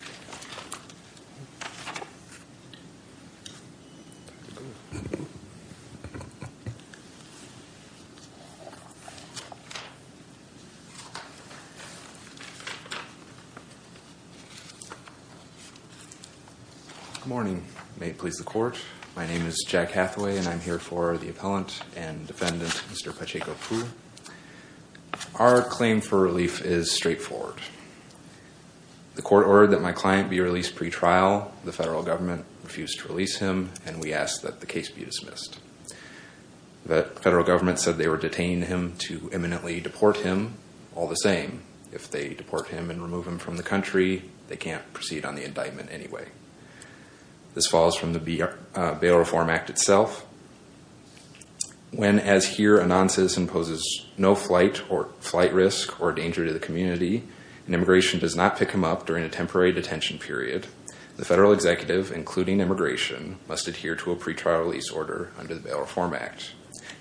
Good morning. May it please the court. My name is Jack Hathaway and I'm here for the appellant and defendant, Mr. Pacheco-Poo. Our claim for relief is straightforward. The court ordered that my client be released pre-trial. The federal government refused to release him and we ask that the case be dismissed. The federal government said they were detaining him to imminently deport him, all the same. If they deport him and remove him from the country, they can't proceed on the indictment anyway. This falls from the Bail Reform Act itself. When, as here, a non-citizen poses no flight or flight risk or danger to the community and immigration does not pick him up during a temporary detention period, the federal executive, including immigration, must adhere to a pre-trial release order under the Bail Reform Act.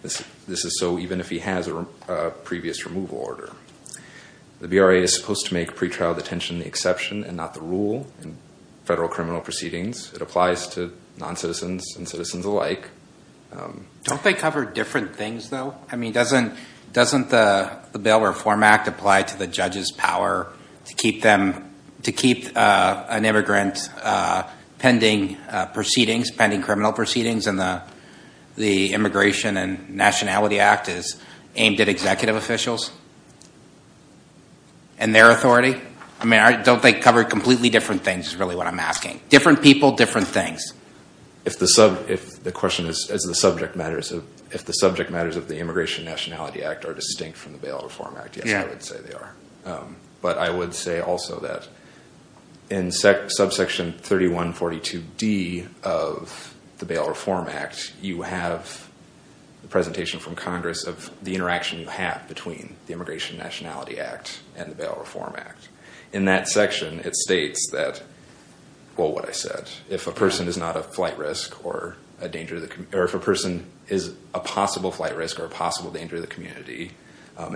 This is so even if he has a previous removal order. The BRA is supposed to make pre-trial detention the exception and not the rule in federal criminal proceedings. It applies to non-citizens and citizens alike. Don't they cover different things though? I mean, doesn't the Bail Reform Act apply to the judge's power to keep an immigrant pending criminal proceedings and the Immigration and Nationality Act is aimed at executive officials and their authority? I mean, don't they cover completely different things is really what I'm asking. Different people, different things. If the subject matters of the Immigration and Nationality Act are distinct from the Bail Reform Act, yes, I would say they are. But I would say also that in subsection 3142D of the Bail Reform Act, you have the presentation from Congress of the interaction you have between the Immigration and Nationality Act and the Bail Reform Act. In that section, it states that, well, what I said, if a person is a possible flight risk or a possible danger to the community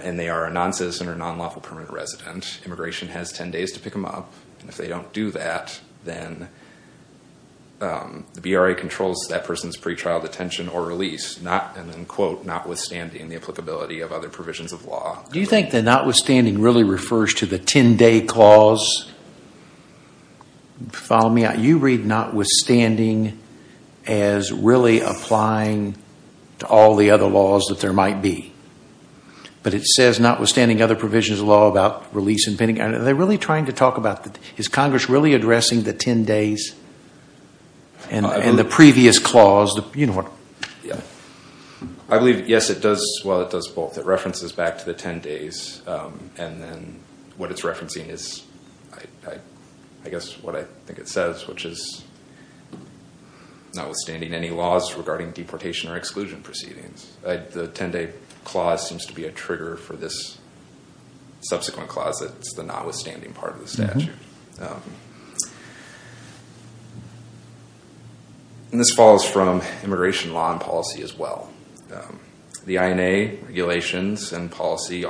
and they are a non-citizen or non-lawful permanent resident, immigration has 10 days to pick them up. If they don't do that, then the BRA controls that person's pre-trial detention or release, and then quote, notwithstanding the applicability of other provisions of law. Do you think the notwithstanding really refers to the 10-day clause? Follow me out. You read notwithstanding as really applying to all the other laws that there might be. But it says notwithstanding other provisions of law about release and pending. Are they really trying to talk about that? Is Congress really addressing the 10 days and the previous clause? I believe, yes, it does. Well, it does both. It references back to the 10 days, and then what it's referencing is, I guess, what I think it says, which is notwithstanding any laws regarding deportation or exclusion proceedings. The 10-day clause seems to be a trigger for this subsequent clause that's the notwithstanding part of the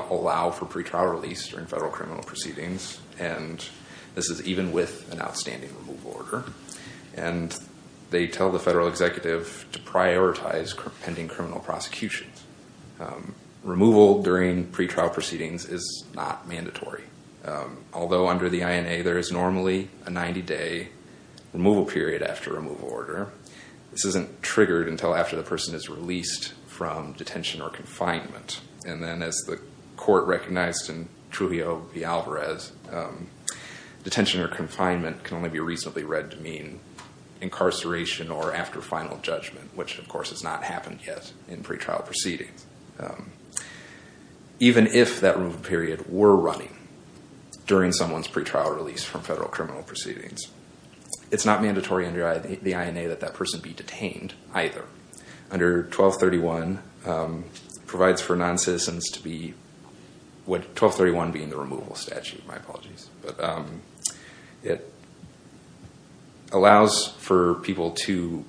allow for pre-trial release during federal criminal proceedings. And this is even with an outstanding removal order. And they tell the federal executive to prioritize pending criminal prosecution. Removal during pre-trial proceedings is not mandatory. Although under the INA, there is normally a 90-day removal period after removal order. This isn't triggered until after the person is released from detention or confinement. And then as the court recognized in Trujillo v. Alvarez, detention or confinement can only be reasonably read to mean incarceration or after final judgment, which of course has not happened yet in pre-trial proceedings. Even if that removal period were running during someone's pre-trial release from federal criminal proceedings, it's not mandatory under the INA that that person be detained either. Under 1231, provides for non-citizens to be, 1231 being the removal statute, my apologies, but it allows for people to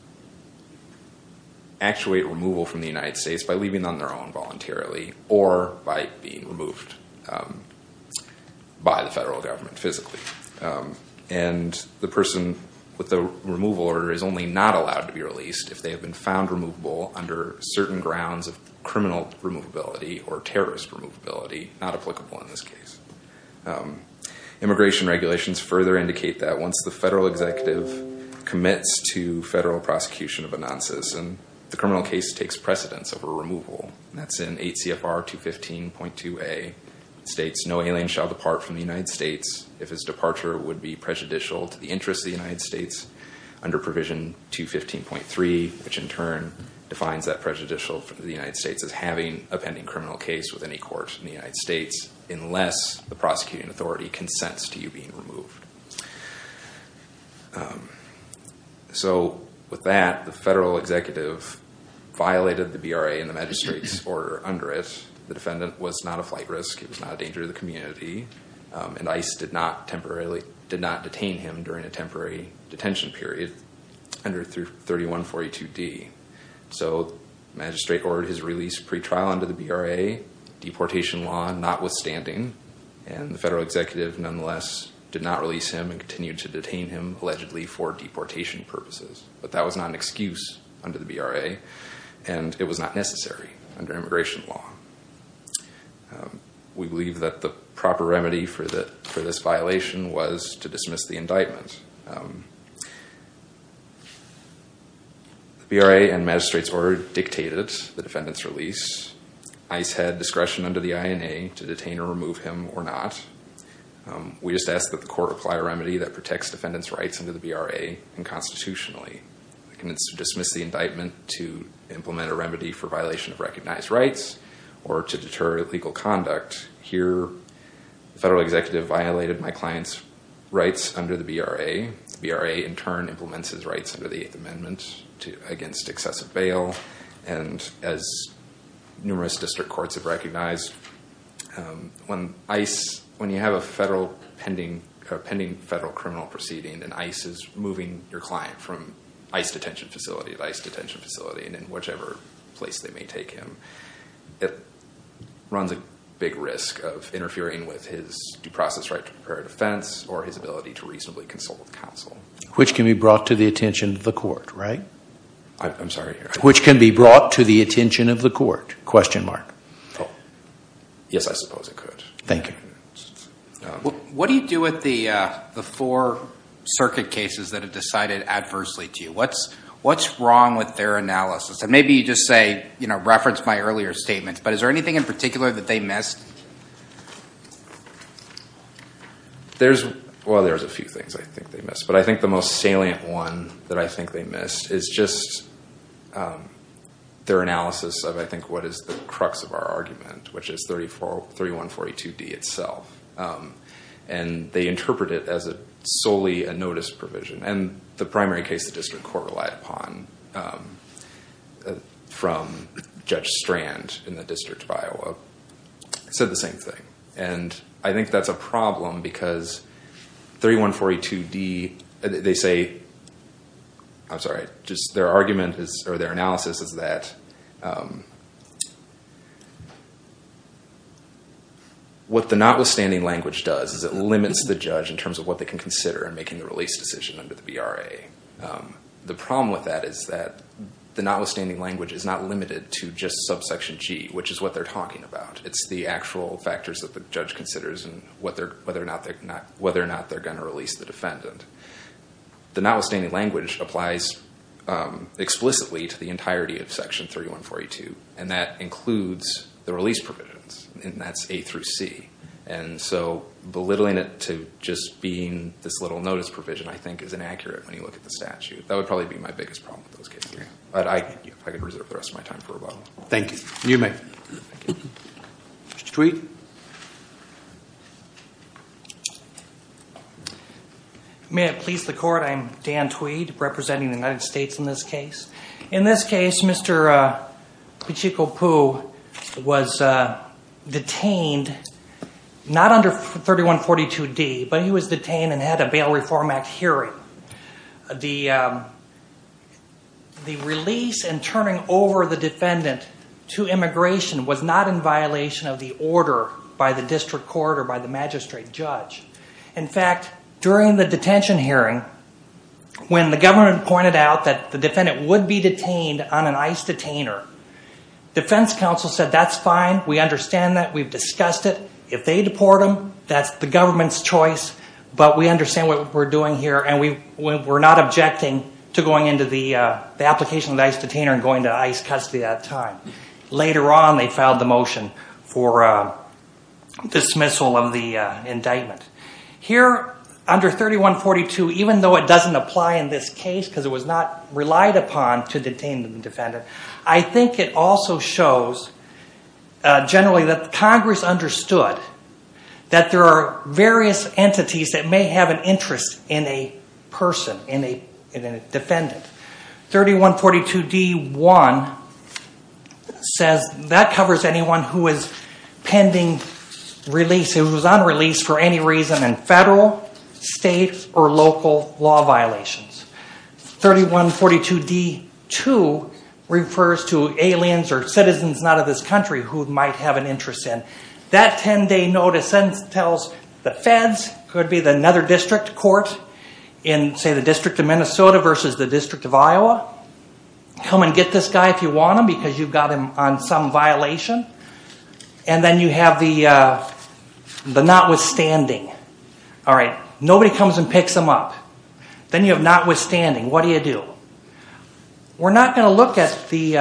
actuate removal from the United States by leaving them on their own voluntarily or by being removed by the federal government physically. And the person with the removal order is only not allowed to be released if they have been found removable under certain grounds of criminal removability or terrorist removability, not applicable in this case. Immigration regulations further indicate that once the federal executive commits to federal prosecution of a non-citizen, the criminal case takes precedence over removal. That's in 8 CFR 215.2a, states no alien shall depart from the United States if his departure would be prejudicial to the interests of the United States under provision 215.3, which in turn defines that prejudicial for the United States as having a pending criminal case with any court in the United States unless the prosecuting authority consents to you being removed. So with that, the federal executive violated the BRA and the magistrate's order under it. The defendant was not a flight risk, it was not a danger to the community, and ICE did not temporarily, did not detain him during a temporary detention period under 3142d. So magistrate ordered his release pretrial under the BRA, deportation law notwithstanding, and the federal executive nonetheless did not release him and continued to detain him allegedly for deportation purposes. But that was not an excuse under the BRA and it was not necessary under immigration law. We believe that the proper remedy for this violation was to dismiss the indictment. The BRA and magistrate's order dictated the defendant's release. ICE had discretion under the INA to detain or remove him or not. We just asked that the court apply a remedy that protects defendant's rights under the BRA and constitutionally. I can dismiss the indictment to implement a remedy for violation of recognized rights or to deter legal conduct. Here, the federal executive violated my client's rights under the BRA. And as numerous district courts have recognized, when ICE, when you have a federal pending, a pending federal criminal proceeding and ICE is moving your client from ICE detention facility to ICE detention facility and in whichever place they may take him, it runs a big risk of interfering with his due process right to prepare a defense or his ability to reasonably consult with counsel. Which can be brought to the attention of the court, right? I'm sorry. Which can be brought to the attention of the court? Question mark. Yes, I suppose it could. Thank you. What do you do with the four circuit cases that have decided adversely to you? What's wrong with their analysis? And maybe you just say, reference my earlier statements, but is there anything in particular that they missed? There's, well there's a few things I think they missed. I think the most salient one that I think they missed is just their analysis of, I think, what is the crux of our argument, which is 3142D itself. And they interpret it as a solely a notice provision. And the primary case the district court relied upon from Judge Strand in the District of Iowa said the same thing. And I think that's a they say, I'm sorry, just their argument is or their analysis is that what the notwithstanding language does is it limits the judge in terms of what they can consider in making the release decision under the VRA. The problem with that is that the notwithstanding language is not limited to just subsection G, which is what they're talking about. It's the actual factors that the judge considers and whether or not they're going to release the defendant. The notwithstanding language applies explicitly to the entirety of Section 3142. And that includes the release provisions. And that's A through C. And so belittling it to just being this little notice provision, I think, is inaccurate when you look at the statute. That would probably be my biggest problem with those cases. But I could reserve the rest of my time for rebuttal. Thank you. You may. Mr. Tweed. May it please the court. I'm Dan Tweed, representing the United States in this case. In this case, Mr. Pacheco Pooh was detained, not under 3142D, but he was detained and had a Bail Reform Act hearing. The release and turning over the district court or by the magistrate judge. In fact, during the detention hearing, when the government pointed out that the defendant would be detained on an ICE detainer, defense counsel said that's fine. We understand that. We've discussed it. If they deport him, that's the government's choice. But we understand what we're doing here and we're not objecting to dismissal of the indictment. Here, under 3142, even though it doesn't apply in this case because it was not relied upon to detain the defendant, I think it also shows generally that Congress understood that there are various entities that may have an interest in a person, in a defendant. 3142D1 says that covers anyone who is pending release, who is on release for any reason in federal, state, or local law violations. 3142D2 refers to aliens or citizens not of this country who might have an interest in a district court in, say, the District of Minnesota versus the District of Iowa. Come and get this guy if you want him because you've got him on some violation. And then you have the notwithstanding. Nobody comes and picks him up. Then you have notwithstanding. What do you do? We're not going to look at the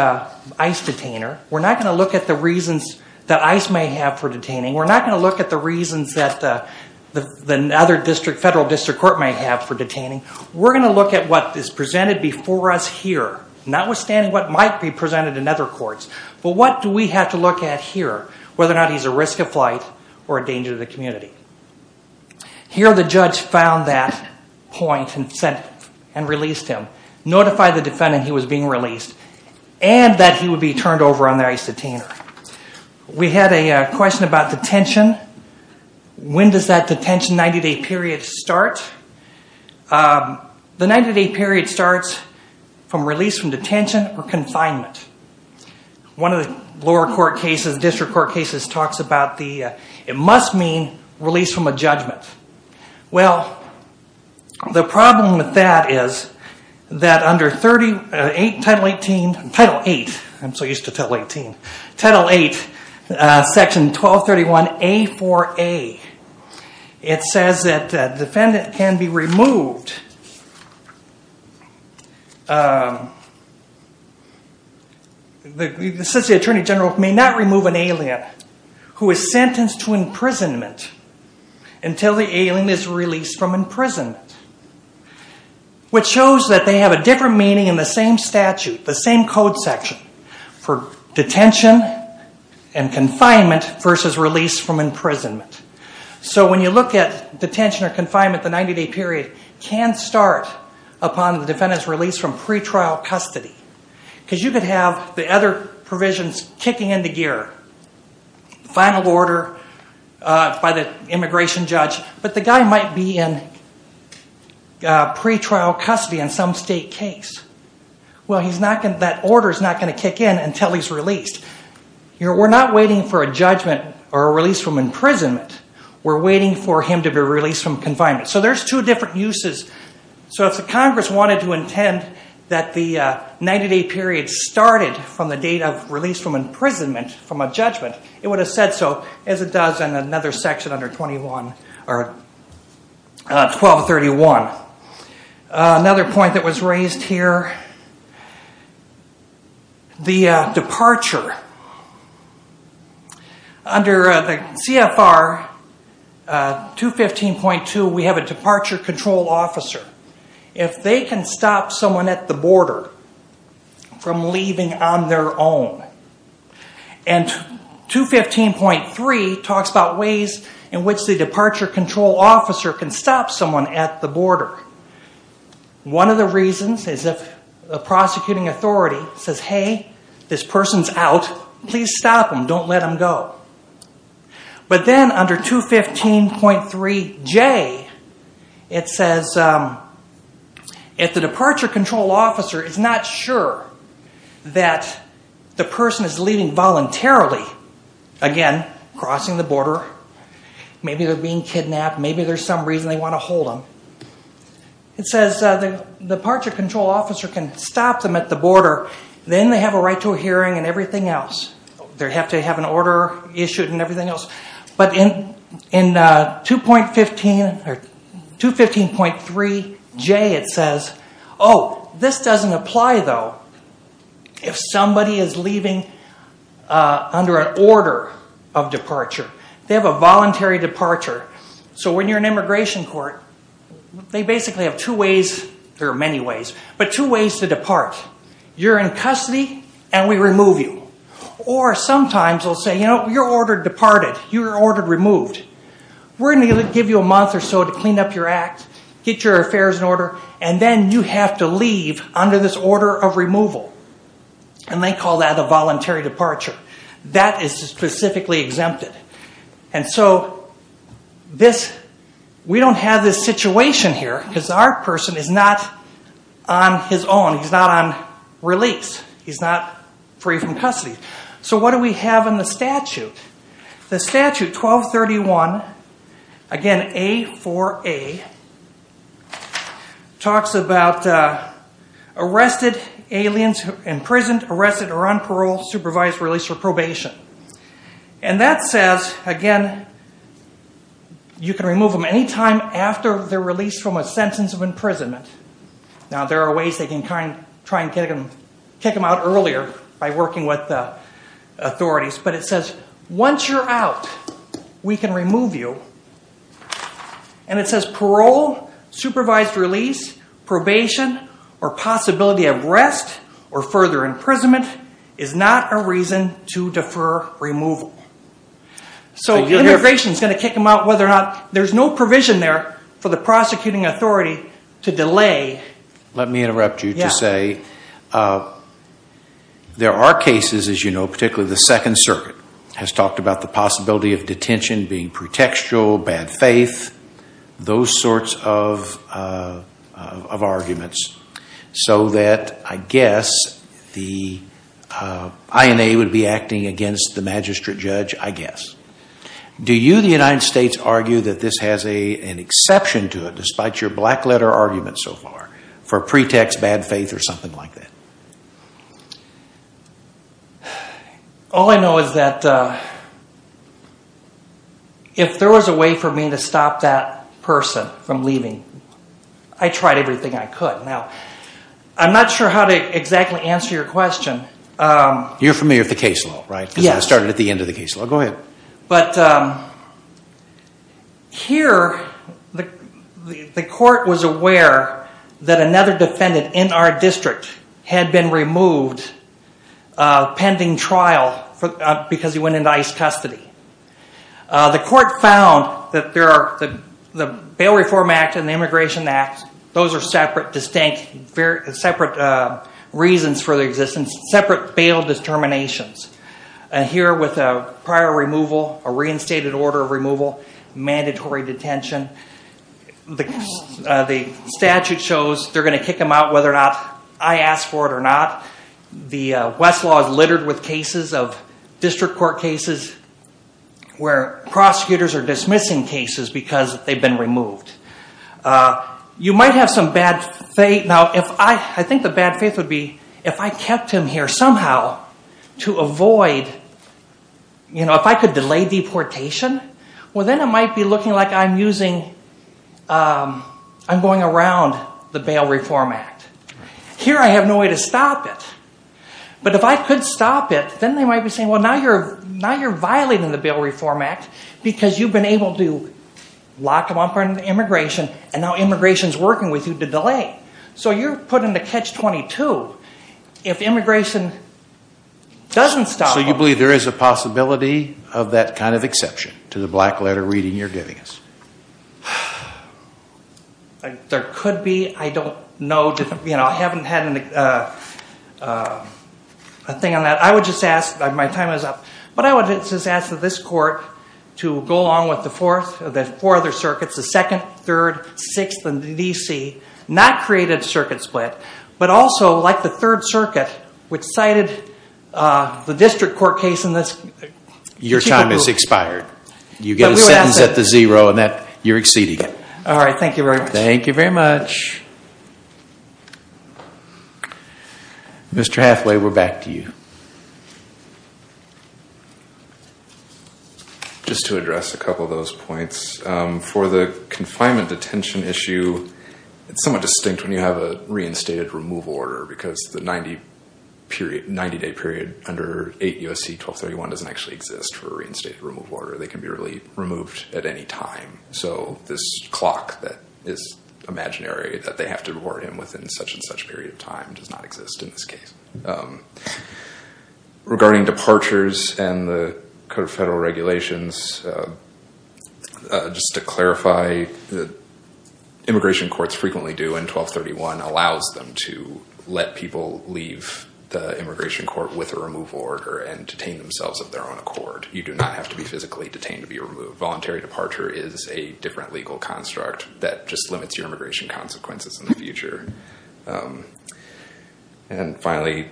ICE detainer. We're not going to look at the reasons that ICE may have for detaining. We're not going to look at the reasons that the other federal district court may have for detaining. We're going to look at what is presented before us here, notwithstanding what might be presented in other courts. But what do we have to look at here, whether or not he's a risk of flight or a danger to the community? Here, the judge found that point and released him, notified the community. We have a question about detention. When does that detention 90-day period start? The 90-day period starts from release from detention or confinement. One of the lower court cases, district court cases, talks about the, it must mean release from a judgment. Well, the problem with that is that under Title 8, I'm so used to Title 18, Title 8, Section 1231A4A, it says that the defendant can be removed. It says the attorney general may not remove an alien who is sentenced to imprisonment until the alien is released from imprisonment, which shows that they have a different meaning in the same statute, the same code section for detention and confinement versus release from imprisonment. So when you look at detention or confinement, the 90-day period can start upon the defendant's release from pretrial custody because you could have the other provisions kicking into gear, final order by the immigration judge, but the guy might be in pretrial custody in some state case. Well, that order is not going to kick in until he's released. We're not waiting for a judgment or a release from imprisonment. We're waiting for him to be released from confinement. So there's two different uses. So if the Congress wanted to intend that the 90-day period started from the date of release from the departure, under the CFR 215.2, we have a departure control officer. If they can stop someone at the border from leaving on their own, and 215.3 talks about ways in which the departure control officer can stop someone at the border. One of the reasons is if the prosecuting authority says, hey, this person's out, please stop them, don't let them go. But then under 215.3J, it says if the departure control officer is not sure that the person is leaving voluntarily, again, crossing the border, maybe they're being kidnapped, maybe there's some reason they want to hold them, it says the departure control officer can stop them at the border. Then they have a right to a hearing and everything else. They have to have an order issued and everything else. But in 215.3J, it says, oh, this doesn't apply, though, if somebody is leaving under an order of departure. They have a voluntary departure. So when you're in immigration court, they basically have two ways, there are many ways, but two ways to depart. You're in custody, and we remove you. Or sometimes they'll say, you're ordered departed, you're ordered removed. We're going to give you a month or so to clean up your act, get your affairs in order, and then you have to leave under this We don't have this situation here because our person is not on his own. He's not on release. He's not free from custody. So what do we have in the statute? The statute, 1231, again, A4A, talks about arrested aliens, imprisoned, arrested or on parole, supervised release, or probation. And that says, again, you can remove them any time after they're released from a sentence of imprisonment. Now, there are ways they can try and kick them out earlier by working with authorities. But it says, once you're out, we can remove you. And it says parole, supervised release, probation, or possibility of rest or further imprisonment is not a reason to defer removal. So immigration is going to kick them out whether or not, there's no provision there for the prosecuting authority to delay. Let me interrupt you to say, there are cases, as you know, particularly the Second Circuit has talked about the possibility of detention being pretextual, bad faith, those sorts of arguments, so that I guess the INA would be acting against the magistrate judge, I guess. Do you, the United States, argue that this has an exception to it, despite your black letter argument so far, for pretext, bad faith, or something like that? All I know is that if there was a way for me to stop that person from leaving, I tried everything I could. Now, I'm not sure how to exactly answer your question. You're familiar with the case law, right? Because I started at the end of the case law. Go ahead. But here, the court was aware that another defendant in our district had been removed pending trial because he went into ICE custody. The court found that the Bail Reform Act and the Immigration Act, those are separate reasons for their existence, separate bail determinations. Here, with a prior removal, a reinstated order of removal, mandatory detention, the statute shows they're going to kick him out whether or not I ask for it or not. The West law is littered with cases of district court cases where prosecutors are dismissing cases because they've been removed. You might have some bad faith. Now, I think the bad faith would be if I kept him here somehow to avoid, if I could delay deportation, well then it might be looking like I'm using, I'm going around the Bail Reform Act. Here, I have no way to stop it. But if I could stop it, then they might be saying, well, now you're violating the Bail Reform Act because you've been able to lock him up under immigration and now immigration's working with you to delay. So, you're putting the catch-22 if immigration doesn't stop him. So, you believe there is a possibility of that kind of exception to the black letter reading you're giving us? There could be. I don't know. I haven't had a thing on that. I would just ask, my time is up, but I would just ask that this court to go along with the four other circuits, the 2nd, 3rd, 6th, and the D.C. Not create a circuit split, but also, like the 3rd Circuit, which cited the district court case in this particular group. You get a sentence at the zero and you're exceeding it. Thank you very much. Mr. Hathaway, we're back to you. Just to address a couple of those points, for the confinement detention issue, it's somewhat distinct when you have a reinstated removal order because the 90-day period under 8 U.S.C. 1231 doesn't actually exist for a reinstated removal order. They can be removed at any time. So, this clock that is imaginary that they have to reward him within such and such a period of time does not exist in this case. Regarding departures and the federal regulations, just to clarify, immigration courts frequently do, and 1231 allows them to let people leave the immigration court with a removal order and detain themselves of their own accord. You do not have to be physically detained to be removed. Voluntary departure is a different legal construct that just limits your immigration consequences in the future. And finally,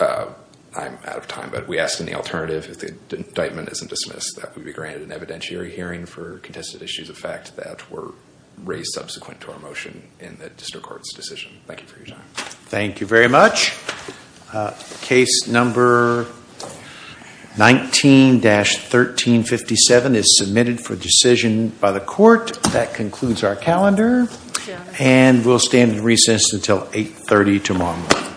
I'm out of time, but we ask any alternative, if the indictment isn't dismissed, that we be granted an evidentiary hearing for contested issues of fact that were raised subsequent to our motion in the district court's decision. Thank you for your time. Thank you very much. Case number 19-1357 is submitted for decision by the court. That concludes our calendar, and we'll stand in recess until 8.30 tomorrow morning.